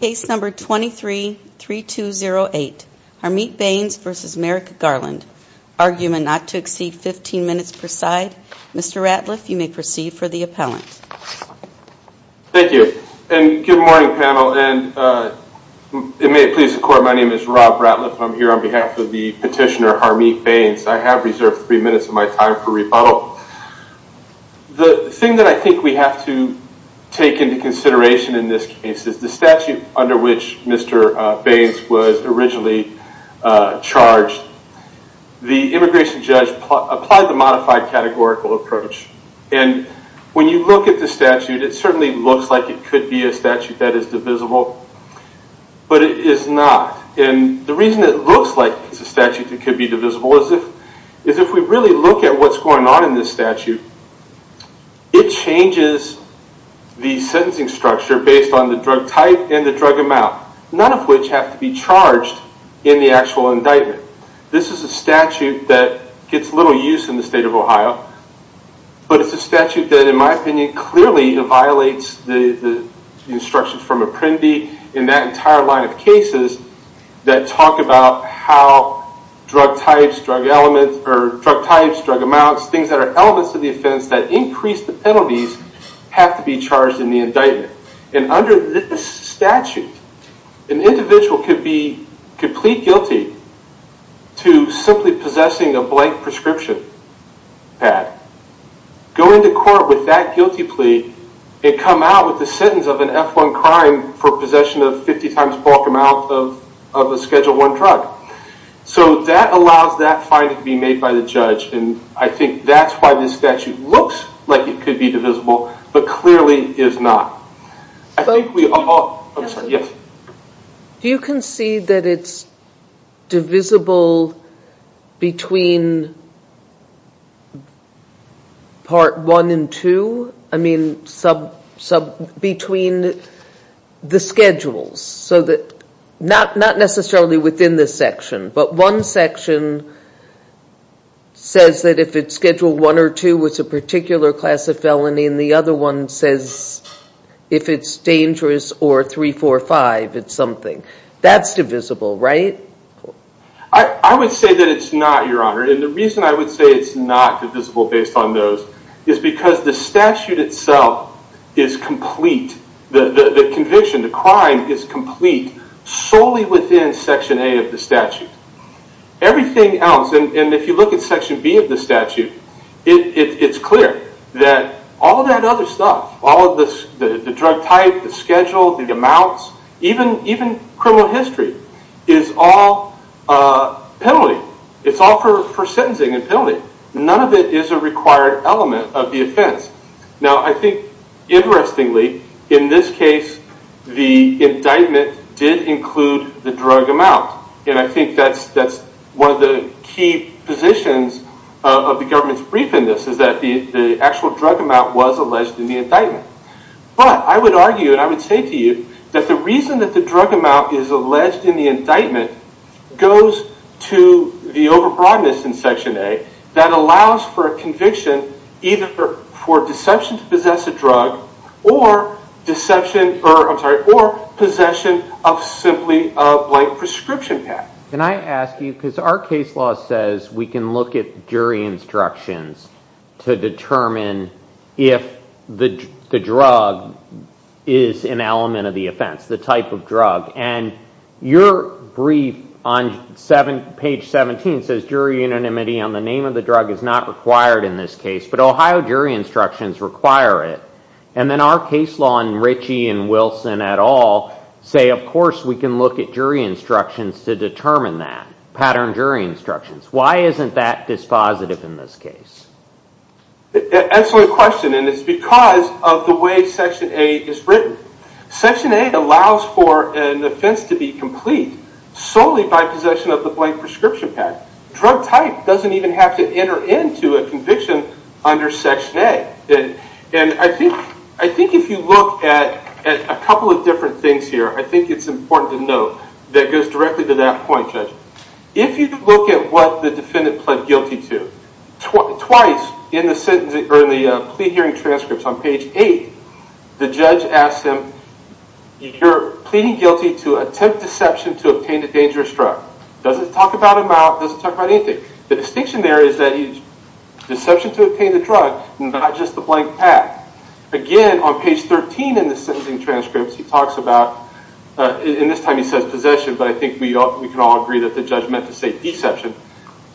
Case number 23-3208, Harmeet Bains v. Merrick Garland. Argument not to exceed 15 minutes per side. Mr. Ratliff, you may proceed for the appellant. Thank you, and good morning panel, and it may please the court, my name is Rob Ratliff. I'm here on behalf of the petitioner, Harmeet Bains. I have reserved three minutes of my time for rebuttal. The thing that I think we have to take into consideration in this case is the statute under which Mr. Bains was originally charged. The immigration judge applied the modified categorical approach. And when you look at the statute, it certainly looks like it could be a statute that is divisible, but it is not. And the reason it looks like it's a statute that could be divisible is if we really look at what's going on in this statute, it changes the sentencing structure based on the drug type and the drug amount. None of which have to be charged in the actual indictment. This is a statute that gets little use in the state of Ohio, but it's a statute that, in my opinion, clearly violates the instructions from Apprendi in that entire line of cases that talk about how drug types, drug amounts, things that are elements of the offense that increase the penalties have to be charged in the indictment. And under this statute, an individual could be complete guilty to simply possessing a blank prescription pad, go into court with that guilty plea, and come out with the sentence of an F-1 crime for possession of 50 times bulk amount of a Schedule I drug. So that allows that finding to be made by the judge, and I think that's why this statute looks like it could be divisible, but clearly is not. Do you concede that it's divisible between Part I and II? I mean, between the schedules, not necessarily within this section, but one section says that if it's Schedule I or II, it's a particular class of felony, and the other one says if it's dangerous or 3, 4, 5, it's something. That's divisible, right? I would say that it's not, Your Honor, and the reason I would say it's not divisible based on those is because the statute itself is complete. The conviction, the crime, is complete solely within Section A of the statute. Everything else, and if you look at Section B of the statute, it's clear that all that other stuff, all of the drug type, the schedule, the amounts, even criminal history, is all penalty. It's all for sentencing and penalty. None of it is a required element of the offense. Now, I think, interestingly, in this case, the indictment did include the drug amount, and I think that's one of the key positions of the government's brief in this, is that the actual drug amount was alleged in the indictment. But I would argue, and I would say to you, that the reason that the drug amount is alleged in the indictment goes to the over-broadness in Section A that allows for a conviction either for deception to possess a drug or possession of simply a blank prescription pack. Can I ask you, because our case law says we can look at jury instructions to determine if the drug is an element of the offense, the type of drug, and your brief on page 17 says jury anonymity on the name of the drug is not required in this case, but Ohio jury instructions require it, and then our case law and Richie and Wilson et al. say, of course, we can look at jury instructions to determine that, pattern jury instructions. Why isn't that dispositive in this case? Excellent question, and it's because of the way Section A is written. Section A allows for an offense to be complete solely by possession of the blank prescription pack. Drug type doesn't even have to enter into a conviction under Section A. And I think if you look at a couple of different things here, I think it's important to note that it goes directly to that point, Judge. If you look at what the defendant pled guilty to, twice in the plea hearing transcripts on page 8, the judge asks him, you're pleading guilty to attempt deception to obtain a dangerous drug. Doesn't talk about amount, doesn't talk about anything. The distinction there is that deception to obtain the drug, not just the blank pack. Again, on page 13 in the sentencing transcripts, he talks about, and this time he says possession, but I think we can all agree that the judge meant to say deception,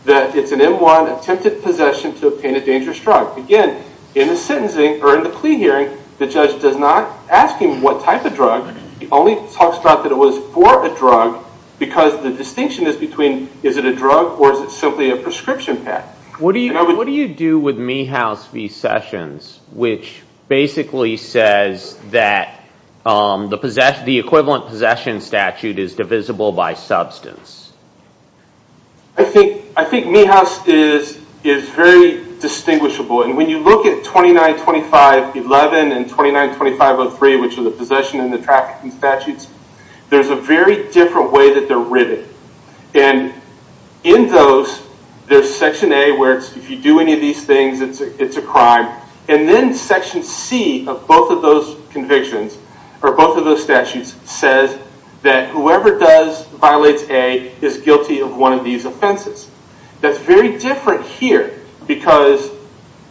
that it's an M1 attempted possession to obtain a dangerous drug. Again, in the sentencing, or in the plea hearing, the judge does not ask him what type of drug. He only talks about that it was for a drug because the distinction is between, is it a drug or is it simply a prescription pack? What do you do with Meehouse v. Sessions, which basically says that the equivalent possession statute is divisible by substance? I think Meehouse is very distinguishable. When you look at 292511 and 292503, which are the possession and the trafficking statutes, there's a very different way that they're written. In those, there's section A where if you do any of these things, it's a crime. Then section C of both of those convictions, or both of those statutes, says that whoever violates A is guilty of one of these offenses. That's very different here because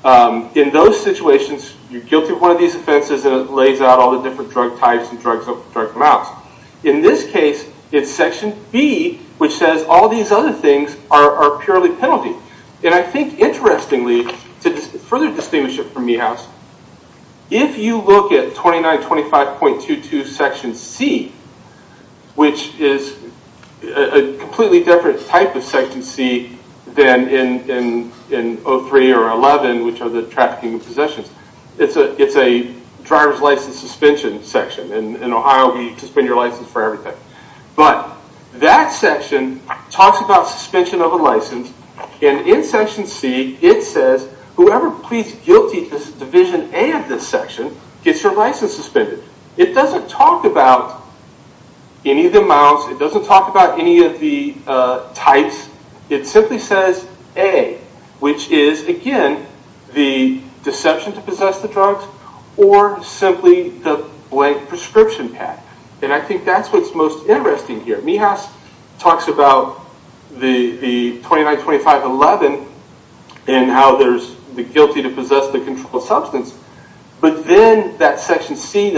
in those situations, you're guilty of one of these offenses and it lays out all the different drug types and drugs that come out. In this case, it's section B, which says all these other things are purely penalty. I think interestingly, to further distinguish it from Meehouse, if you look at 2925.22 section C, which is a completely different type of section C than in 03 or 11, which are the trafficking and possessions, it's a driver's license suspension section. In Ohio, we suspend your license for everything. That section talks about suspension of a license. In section C, it says whoever pleads guilty to division A of this section gets their license suspended. It doesn't talk about any of the amounts. It doesn't talk about any of the types. It simply says A, which is, again, the deception to possess the drugs or simply the blank prescription pack. I think that's what's most interesting here. Meehouse talks about the 2925.11 and how there's the guilty to possess the controlled substance, but then that section C in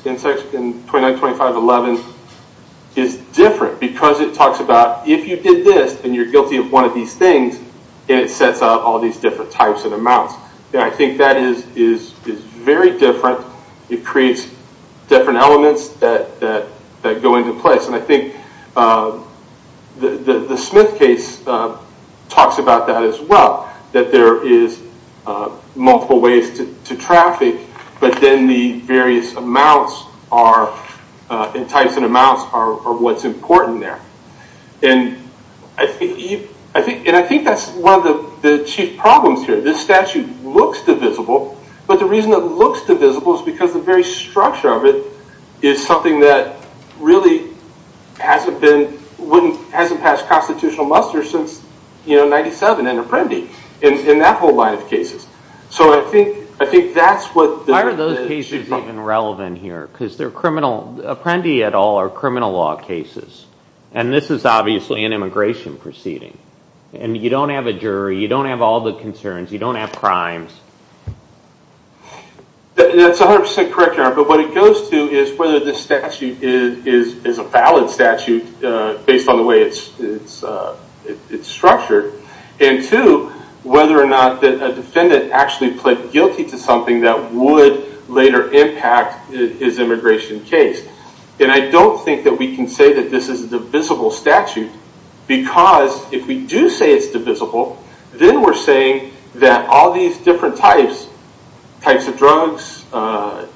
2925.11 is different because it talks about if you did this and you're guilty of one of these things and it sets out all these different types and amounts. I think that is very different. It creates different elements that go into place. I think the Smith case talks about that as well, that there is multiple ways to traffic, but then the various types and amounts are what's important there. I think that's one of the chief problems here. This statute looks divisible, but the reason it looks divisible is because the very structure of it is something that really hasn't passed constitutional muster since 1997 in Apprendi and that whole line of cases. Why are those cases even relevant here? Apprendi et al. are criminal law cases, and this is obviously an immigration proceeding. You don't have a jury. You don't have all the concerns. You don't have crimes. That's 100% correct, Your Honor, but what it goes to is whether this statute is a valid statute based on the way it's structured and two, whether or not a defendant actually pled guilty to something that would later impact his immigration case. I don't think that we can say that this is a divisible statute because if we do say it's divisible, then we're saying that all these different types, types of drugs,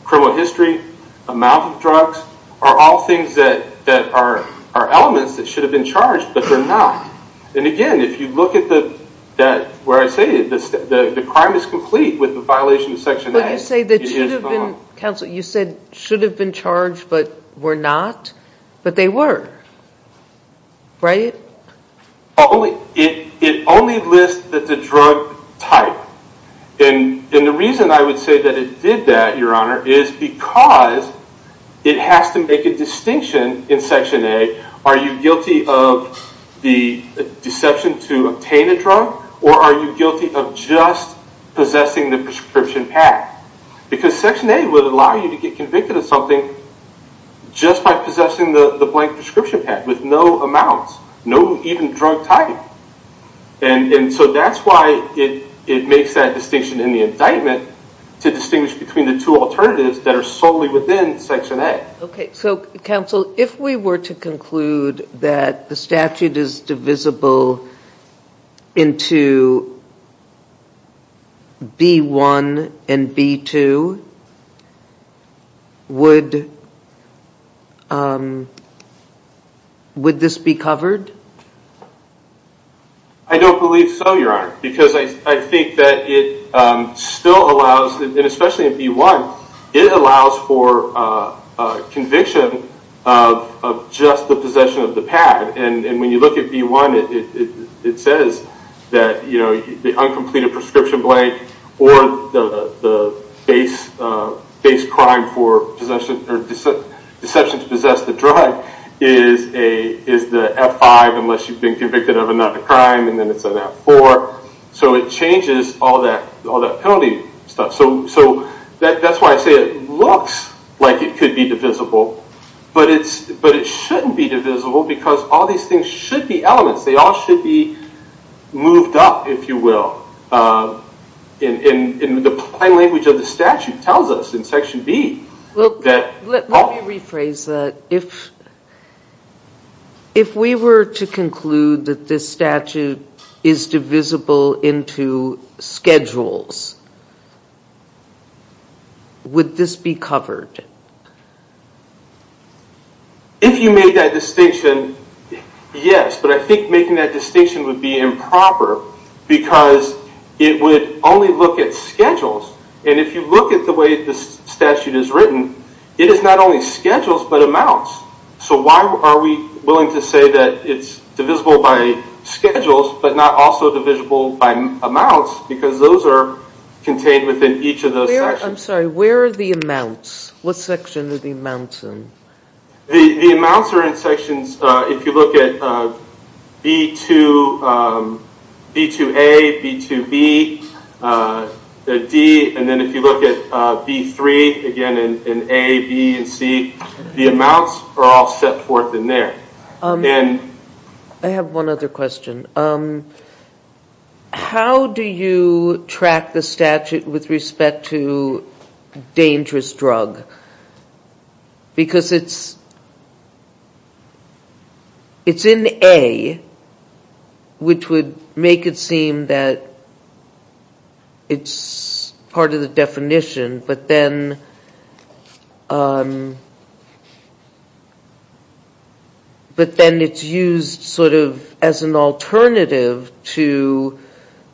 criminal history, amount of drugs, are all things that are elements that should have been charged, but they're not. Again, if you look at where I say the crime is complete with the violation of Section A, it is not. Counsel, you said should have been charged but were not, but they were. It only lists the drug type, and the reason I would say that it did that, Your Honor, is because it has to make a distinction in Section A. Are you guilty of the deception to obtain a drug, or are you guilty of just possessing the prescription pack? Because Section A would allow you to get convicted of something just by possessing the blank prescription pack with no amounts, no even drug type. That's why it makes that distinction in the indictment to distinguish between the two alternatives that are solely within Section A. Counsel, if we were to conclude that the statute is divisible into B1 and B2, would this be covered? I don't believe so, Your Honor, because I think that it still allows, and especially in B1, it allows for conviction of just the possession of the pack. And when you look at B1, it says that the uncompleted prescription blank or the base crime for deception to possess the drug is the F5 unless you've been convicted of another crime, and then it's an F4. So it changes all that penalty stuff. So that's why I say it looks like it could be divisible, but it shouldn't be divisible because all these things should be elements. They all should be moved up, if you will. And the plain language of the statute tells us in Section B that all... Let me rephrase that. If we were to conclude that this statute is divisible into schedules, would this be covered? If you made that distinction, yes, but I think making that distinction would be improper because it would only look at schedules. And if you look at the way the statute is written, it is not only schedules but amounts. So why are we willing to say that it's divisible by schedules but not also divisible by amounts because those are contained within each of those sections. I'm sorry, where are the amounts? What section are the amounts in? The amounts are in sections, if you look at B2A, B2B, D, and then if you look at B3, again in A, B, and C, the amounts are all set forth in there. I have one other question. How do you track the statute with respect to dangerous drug? Because it's in A, which would make it seem that it's part of the definition, but then it's used sort of as an alternative to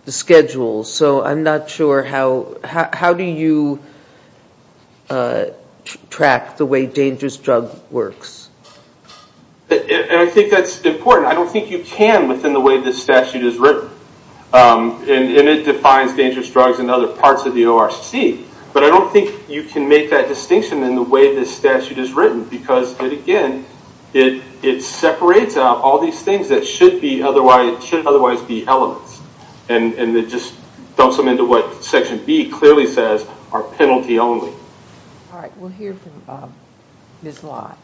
the schedule. So I'm not sure how do you track the way dangerous drug works. I think that's important. I don't think you can within the way the statute is written. And it defines dangerous drugs in other parts of the ORC. But I don't think you can make that distinction in the way the statute is written because it again, it separates out all these things that should otherwise be elements. And it just dumps them into what section B clearly says, are penalty only. All right, we'll hear from Ms. Lott.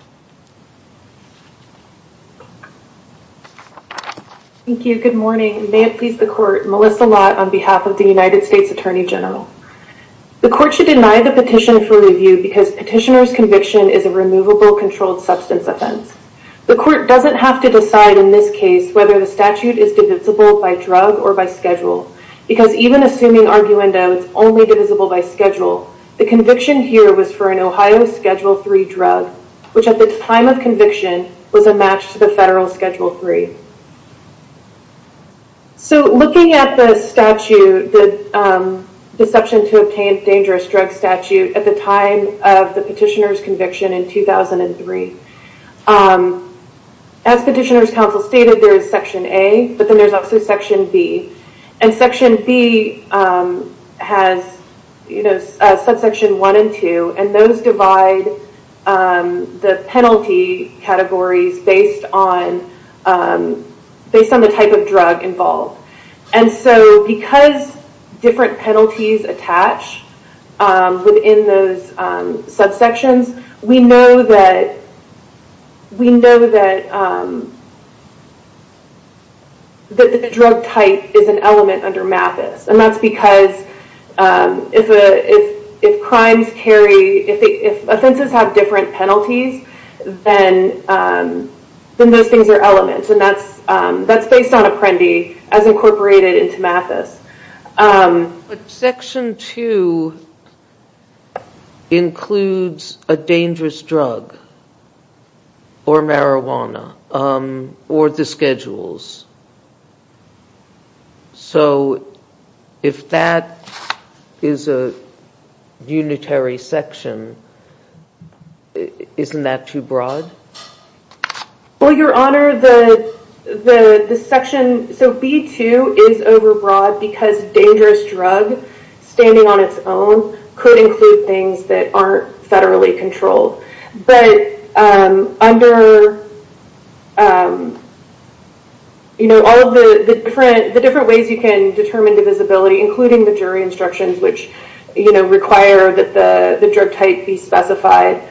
Thank you, good morning. May it please the court, Melissa Lott on behalf of the United States Attorney General. The court should deny the petition for review because petitioner's conviction is a removable controlled substance offense. The court doesn't have to decide in this case whether the statute is divisible by drug or by schedule because even assuming arguendo, it's only divisible by schedule. The conviction here was for an Ohio Schedule III drug, which at the time of conviction was a match to the federal Schedule III. So looking at the statute, the Deception to Obtain Dangerous Drugs statute at the time of the petitioner's conviction in 2003, as petitioner's counsel stated, there is section A, but then there's also section B. And section B has subsection one and two, and those divide the penalty categories based on the type of drug involved. And so because different penalties attach within those subsections, we know that the drug type is an element under MAPIS. And that's because if offenses have different penalties, then those things are elements, and that's based on Apprendi as incorporated into MAPIS. But section two includes a dangerous drug or marijuana or the schedules. So if that is a unitary section, isn't that too broad? Well, Your Honor, the section B2 is overbroad because dangerous drug standing on its own could include things that aren't federally controlled. But under all of the different ways you can determine divisibility, including the jury instructions, which require that the drug type be specified,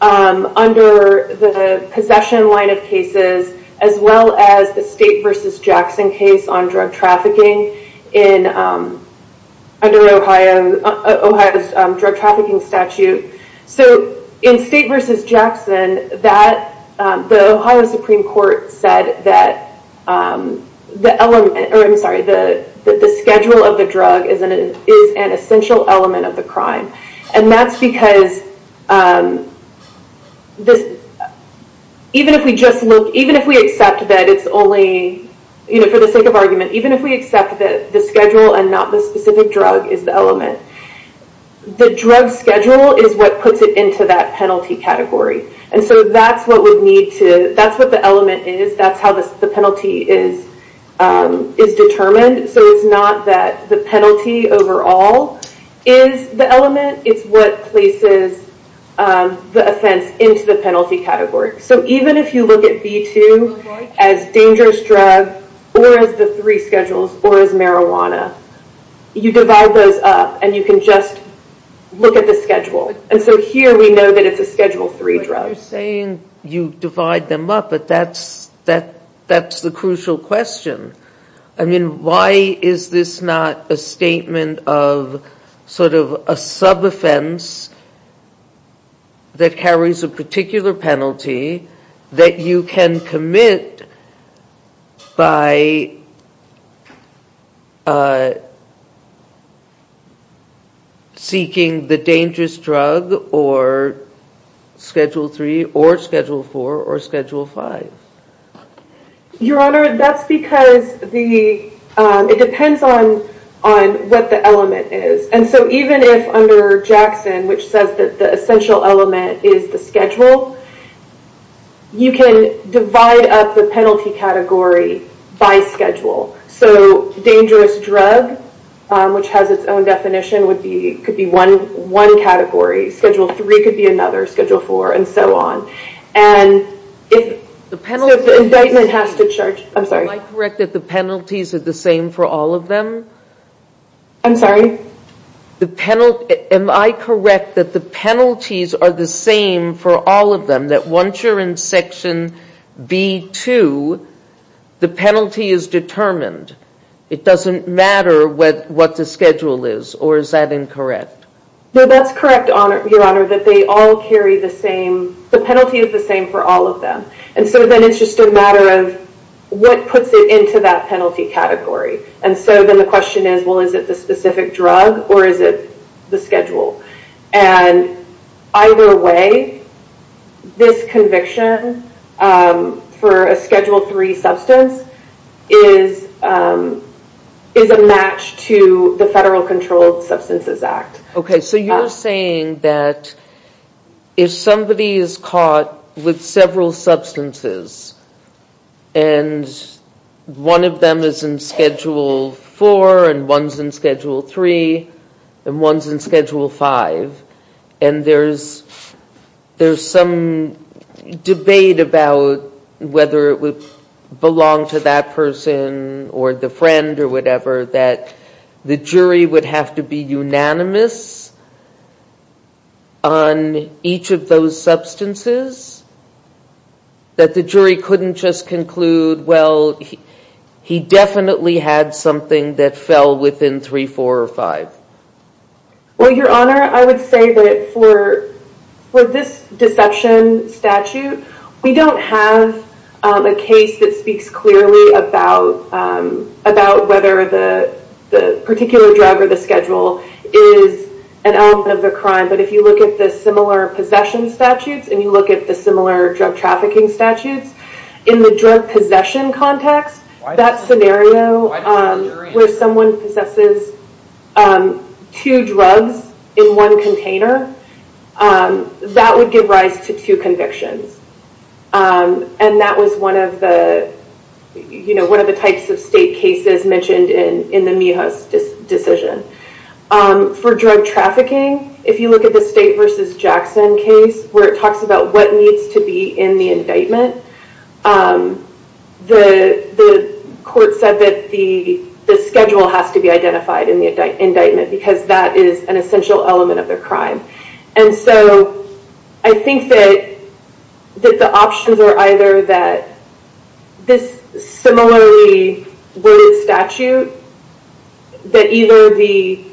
under the possession line of cases, as well as the State v. Jackson case on drug trafficking under Ohio's drug trafficking statute. So in State v. Jackson, the Ohio Supreme Court said that the element, or I'm sorry, the schedule of the drug is an essential element of the crime. And that's because even if we accept that it's only, for the sake of argument, even if we accept that the schedule and not the specific drug is the element, the drug schedule is what puts it into that penalty category. And so that's what we need to, that's what the element is, that's how the penalty is determined. So it's not that the penalty overall is the element, it's what places the offense into the penalty category. So even if you look at B2 as dangerous drug or as the three schedules or as marijuana, you divide those up and you can just look at the schedule. And so here we know that it's a Schedule III drug. You're saying you divide them up, but that's the crucial question. I mean, why is this not a statement of sort of a sub-offense that carries a particular penalty that you can commit by seeking the dangerous drug or Schedule III or Schedule IV or Schedule V? Your Honor, that's because it depends on what the element is. And so even if under Jackson, which says that the essential element is the schedule, you can divide up the penalty category by schedule. So dangerous drug, which has its own definition, could be one category. Schedule III could be another, Schedule IV, and so on. And if the indictment has to charge... Am I correct that the penalties are the same for all of them? I'm sorry? Am I correct that the penalties are the same for all of them, that once you're in Section B-2, the penalty is determined? It doesn't matter what the schedule is, or is that incorrect? No, that's correct, Your Honor, that they all carry the same... The penalty is the same for all of them. And so then it's just a matter of what puts it into that penalty category. And so then the question is, well, is it the specific drug, or is it the schedule? And either way, this conviction for a Schedule III substance is a match to the Federal Controlled Substances Act. Okay, so you're saying that if somebody is caught with several substances and one of them is in Schedule IV and one's in Schedule III and one's in Schedule V, and there's some debate about whether it would belong to that person or the friend or whatever, that the jury would have to be unanimous on each of those substances, that the jury couldn't just conclude, well, he definitely had something that fell within 3, 4, or 5? Well, Your Honor, I would say that for this deception statute, we don't have a case that speaks clearly about whether the particular drug or the schedule is an element of the crime. But if you look at the similar possession statutes and you look at the similar drug trafficking statutes, in the drug possession context, that scenario where someone possesses two drugs in one container, that would give rise to two convictions. And that was one of the types of state cases mentioned in the Mijos decision. For drug trafficking, if you look at the State v. Jackson case, where it talks about what needs to be in the indictment, the court said that the schedule has to be identified in the indictment because that is an essential element of the crime. And so I think that the options are either that this similarly worded statute, that either the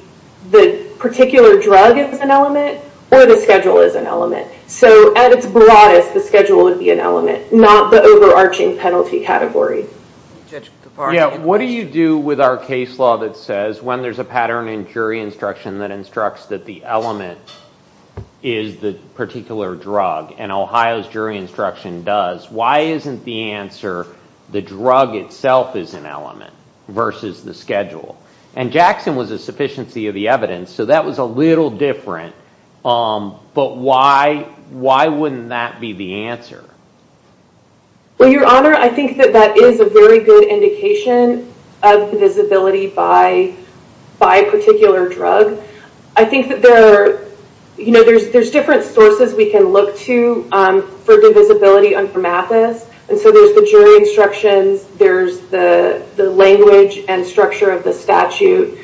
particular drug is an element or the schedule is an element. So at its broadest, the schedule would be an element, not the overarching penalty category. Judge Giffard? Yeah, what do you do with our case law that says when there's a pattern in jury instruction that instructs that the element is the particular drug, and Ohio's jury instruction does, why isn't the answer the drug itself is an element versus the schedule? And Jackson was a sufficiency of the evidence, so that was a little different. But why wouldn't that be the answer? Well, Your Honor, I think that that is a very good indication of divisibility by a particular drug. I think that there's different sources we can look to for divisibility on promathas. And so there's the jury instructions, there's the language and structure of the statute,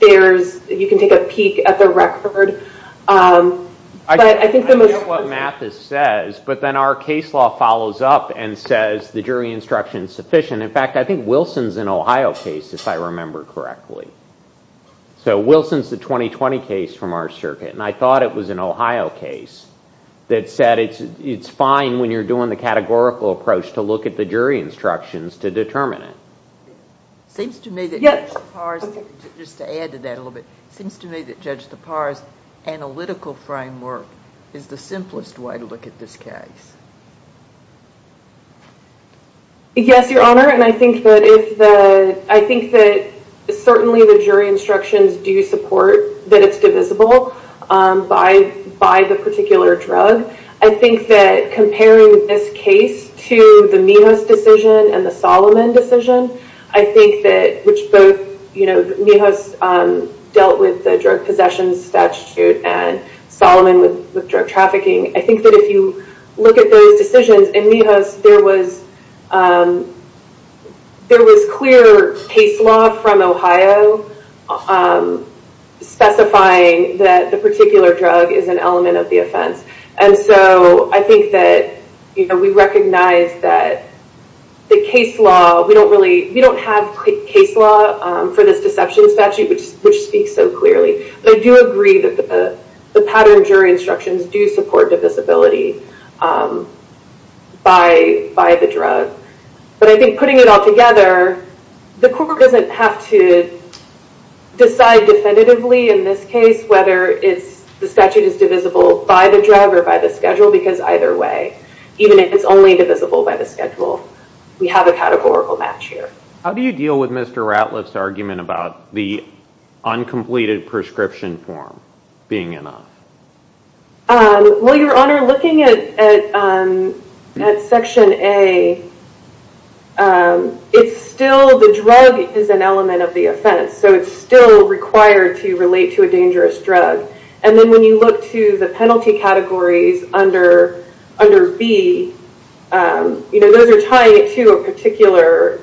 you can take a peek at the record. I get what Mathis says, but then our case law follows up and says the jury instruction is sufficient. In fact, I think Wilson's an Ohio case, if I remember correctly. So Wilson's the 2020 case from our circuit, and I thought it was an Ohio case that said it's fine when you're doing the categorical approach to look at the jury instructions to determine it. It seems to me that Judge Tappara's, just to add to that a little bit, seems to me that Judge Tappara's analytical framework is the simplest way to look at this case. Yes, Your Honor, and I think that certainly the jury instructions do support that it's divisible by the particular drug. I think that comparing this case to the Minos decision and the Solomon decision, I think that, which both, you know, Minos dealt with the drug possession statute and Solomon with drug trafficking, I think that if you look at those decisions, in Minos there was clear case law from Ohio specifying that the particular drug is an element of the offense. And so I think that we recognize that the case law, we don't really, we don't have case law for this deception statute which speaks so clearly. But I do agree that the pattern jury instructions do support divisibility by the drug. But I think putting it all together, the court doesn't have to decide definitively in this case whether the statute is divisible by the drug or by the schedule, because either way, even if it's only divisible by the schedule, we have a categorical match here. How do you deal with Mr. Ratliff's argument about the uncompleted prescription form being enough? Well, Your Honor, looking at Section A, it's still, the drug is an element of the offense, so it's still required to relate to a dangerous drug. And then when you look to the penalty categories under B, those are tied to a particular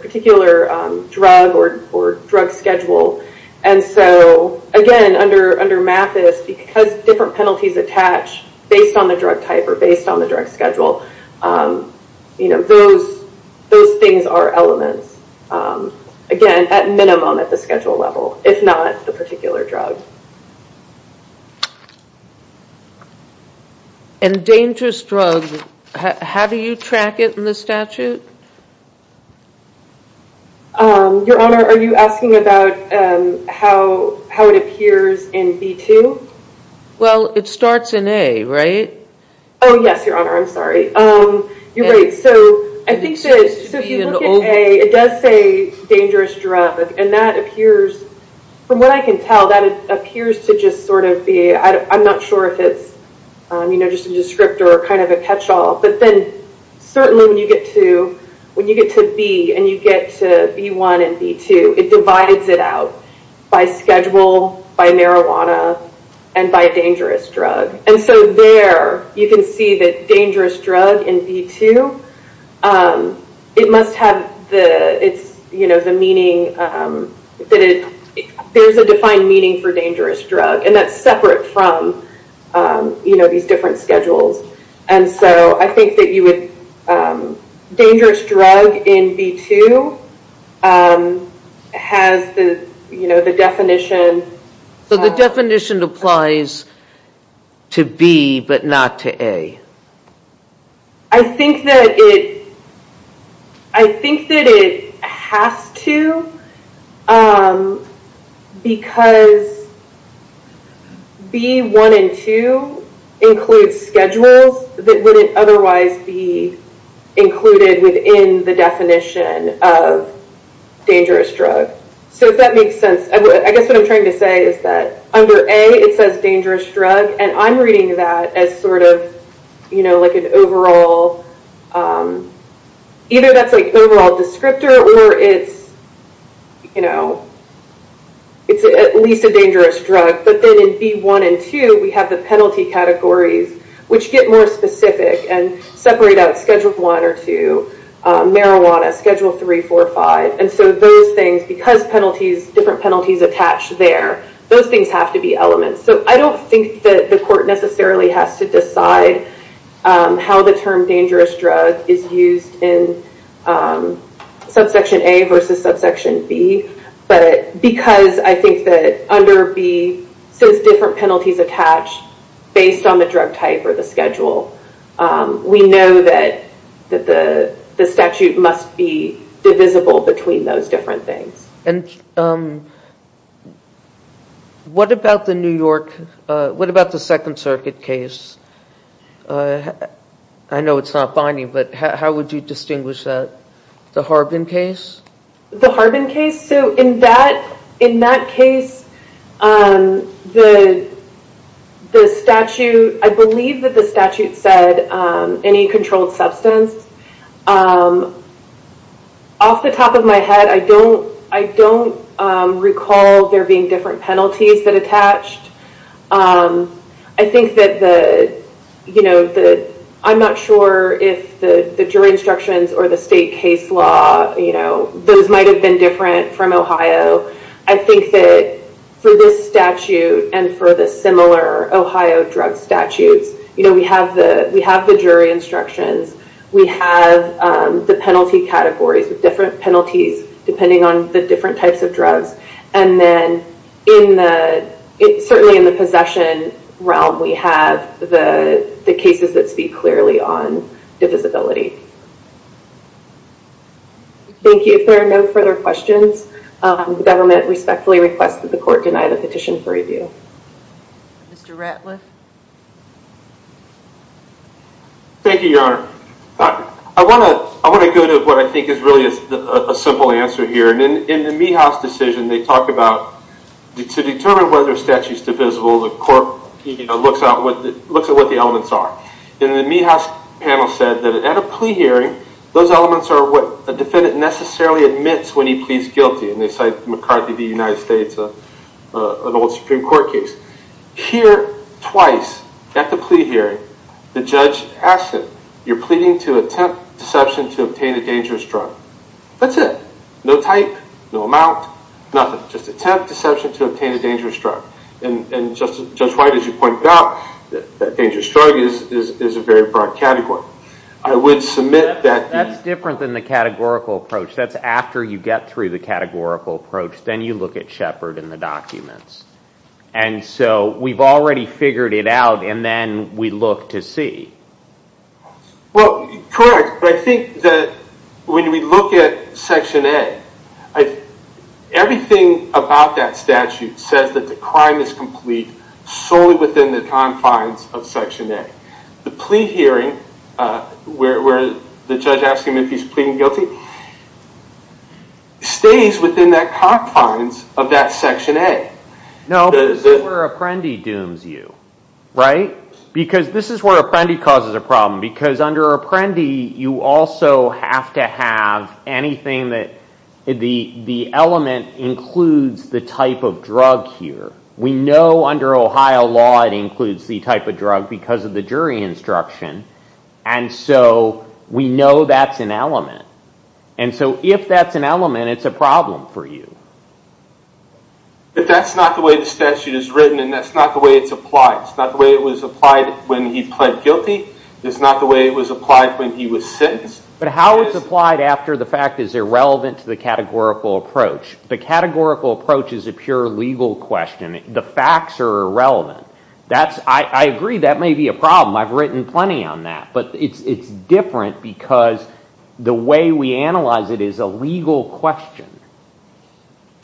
drug or drug schedule. And so again, under Mathis, because different penalties attach based on the drug type or based on the drug schedule, those things are elements. Again, at minimum at the schedule level, if not the particular drug. And dangerous drug, how do you track it in the statute? Your Honor, are you asking about how it appears in B2? Well, it starts in A, right? Oh yes, Your Honor, I'm sorry. You're right. So I think that if you look at A, it does say dangerous drug, and that appears, from what I can tell, that it appears to just sort of be, I'm not sure if it's just a descriptor or kind of a catch-all, but then certainly when you get to B, and you get to B1 and B2, it divides it out by schedule, by marijuana, and by dangerous drug. And so there, you can see that dangerous drug in B2, it must have the meaning, that there's a defined meaning for dangerous drug, and that's separate from these different schedules. And so I think that you would, dangerous drug in B2 has the definition. So the definition applies to B but not to A? I think that it, I think that it has to, because B1 and 2 include schedules that wouldn't otherwise be included within the definition of dangerous drug. So if that makes sense, I guess what I'm trying to say is that under A, it says dangerous drug, and I'm reading that as sort of an overall, either that's an overall descriptor or it's, you know, it's at least a dangerous drug, but then in B1 and 2, we have the penalty categories, which get more specific and separate out schedule 1 or 2, marijuana, schedule 3, 4, 5, and so those things, because penalties, different penalties attach there, those things have to be elements. So I don't think that the court necessarily has to decide how the term dangerous drug is used in subsection A versus subsection B, but because I think that under B says different penalties attach based on the drug type or the schedule, we know that the statute must be divisible between those different things. And what about the New York, what about the Second Circuit case? I know it's not binding, but how would you distinguish that? The Harbin case? The Harbin case? So in that case, the statute, I believe that the statute said any controlled substance. Off the top of my head, I don't recall there being different penalties that attached. I think that the, I'm not sure if the jury instructions or the state case law, those might have been different from Ohio. I think that for this statute and for the similar Ohio drug statutes, we have the jury instructions, we have the penalty categories with different penalties depending on the different types of drugs, and then in the, certainly in the possession realm, we have the cases that speak clearly on divisibility. Thank you. If there are no further questions, the government respectfully requests that the court deny the petition for review. Mr. Ratliff? Thank you, Your Honor. I want to go to what I think is really a simple answer here. In the Meehaus decision, they talk about, to determine whether a statute is divisible, the court looks at what the elements are. In the Meehaus panel said that at a plea hearing, those elements are what a defendant necessarily admits when he pleads guilty, and they cite McCarthy v. United States, an old Supreme Court case. Here, twice, at the plea hearing, the judge asks him, you're pleading to attempt deception to obtain a dangerous drug. That's it. No type, no amount, nothing. Just attempt deception to obtain a dangerous drug. And Judge White, as you pointed out, that dangerous drug is a very broad category. I would submit that... That's different than the categorical approach. That's after you get through the categorical approach, then you look at Shepard and the documents. And so, we've already figured it out, and then we look to see. Well, correct, but I think that when we look at Section A, everything about that statute says that the crime is complete solely within the confines of Section A. The plea hearing, where the judge asks him if he's pleading guilty, stays within the confines of that Section A. No, this is where Apprendi dooms you. Right? Because this is where Apprendi causes a problem, because under Apprendi, you also have to have anything that... The element includes the type of drug here. We know under Ohio law, it includes the type of drug because of the jury instruction. And so, we know that's an element. And so, if that's an element, it's a problem for you. But that's not the way the statute is written, and that's not the way it's applied. It's not the way it was applied when he pled guilty. It's not the way it was applied when he was sentenced. But how it's applied after the fact is irrelevant to the categorical approach. The categorical approach is a pure legal question. The facts are irrelevant. I agree, that may be a problem. I've written plenty on that. But it's different because the way we analyze it is a legal question.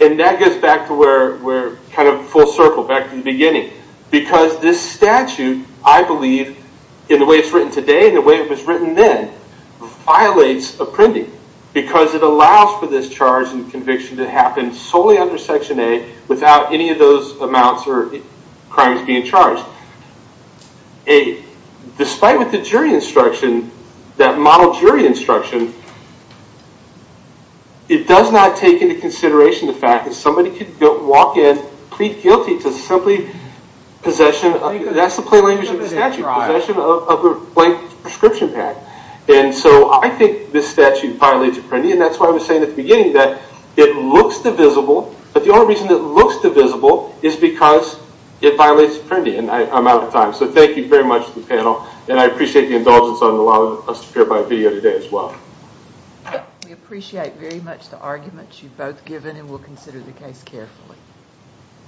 And that gets back to where we're kind of full circle, back to the beginning. Because this statute, I believe, in the way it's written today, and the way it was written then, violates appending. Because it allows for this charge and conviction to happen solely under Section A, without any of those amounts or crimes being charged. Despite what the jury instruction, that model jury instruction, it does not take into consideration the fact that somebody could walk in, plead guilty, to simply possession. That's the plain language of the statute. Possession of a blank prescription pack. And so I think this statute violates appending. And that's why I was saying at the beginning that it looks divisible, but the only reason it looks divisible is because it violates appending. And I'm out of time. So thank you very much to the panel. And I appreciate the indulgence on allowing us to clarify the video today as well. We appreciate very much the arguments you've both given and we'll consider the case carefully.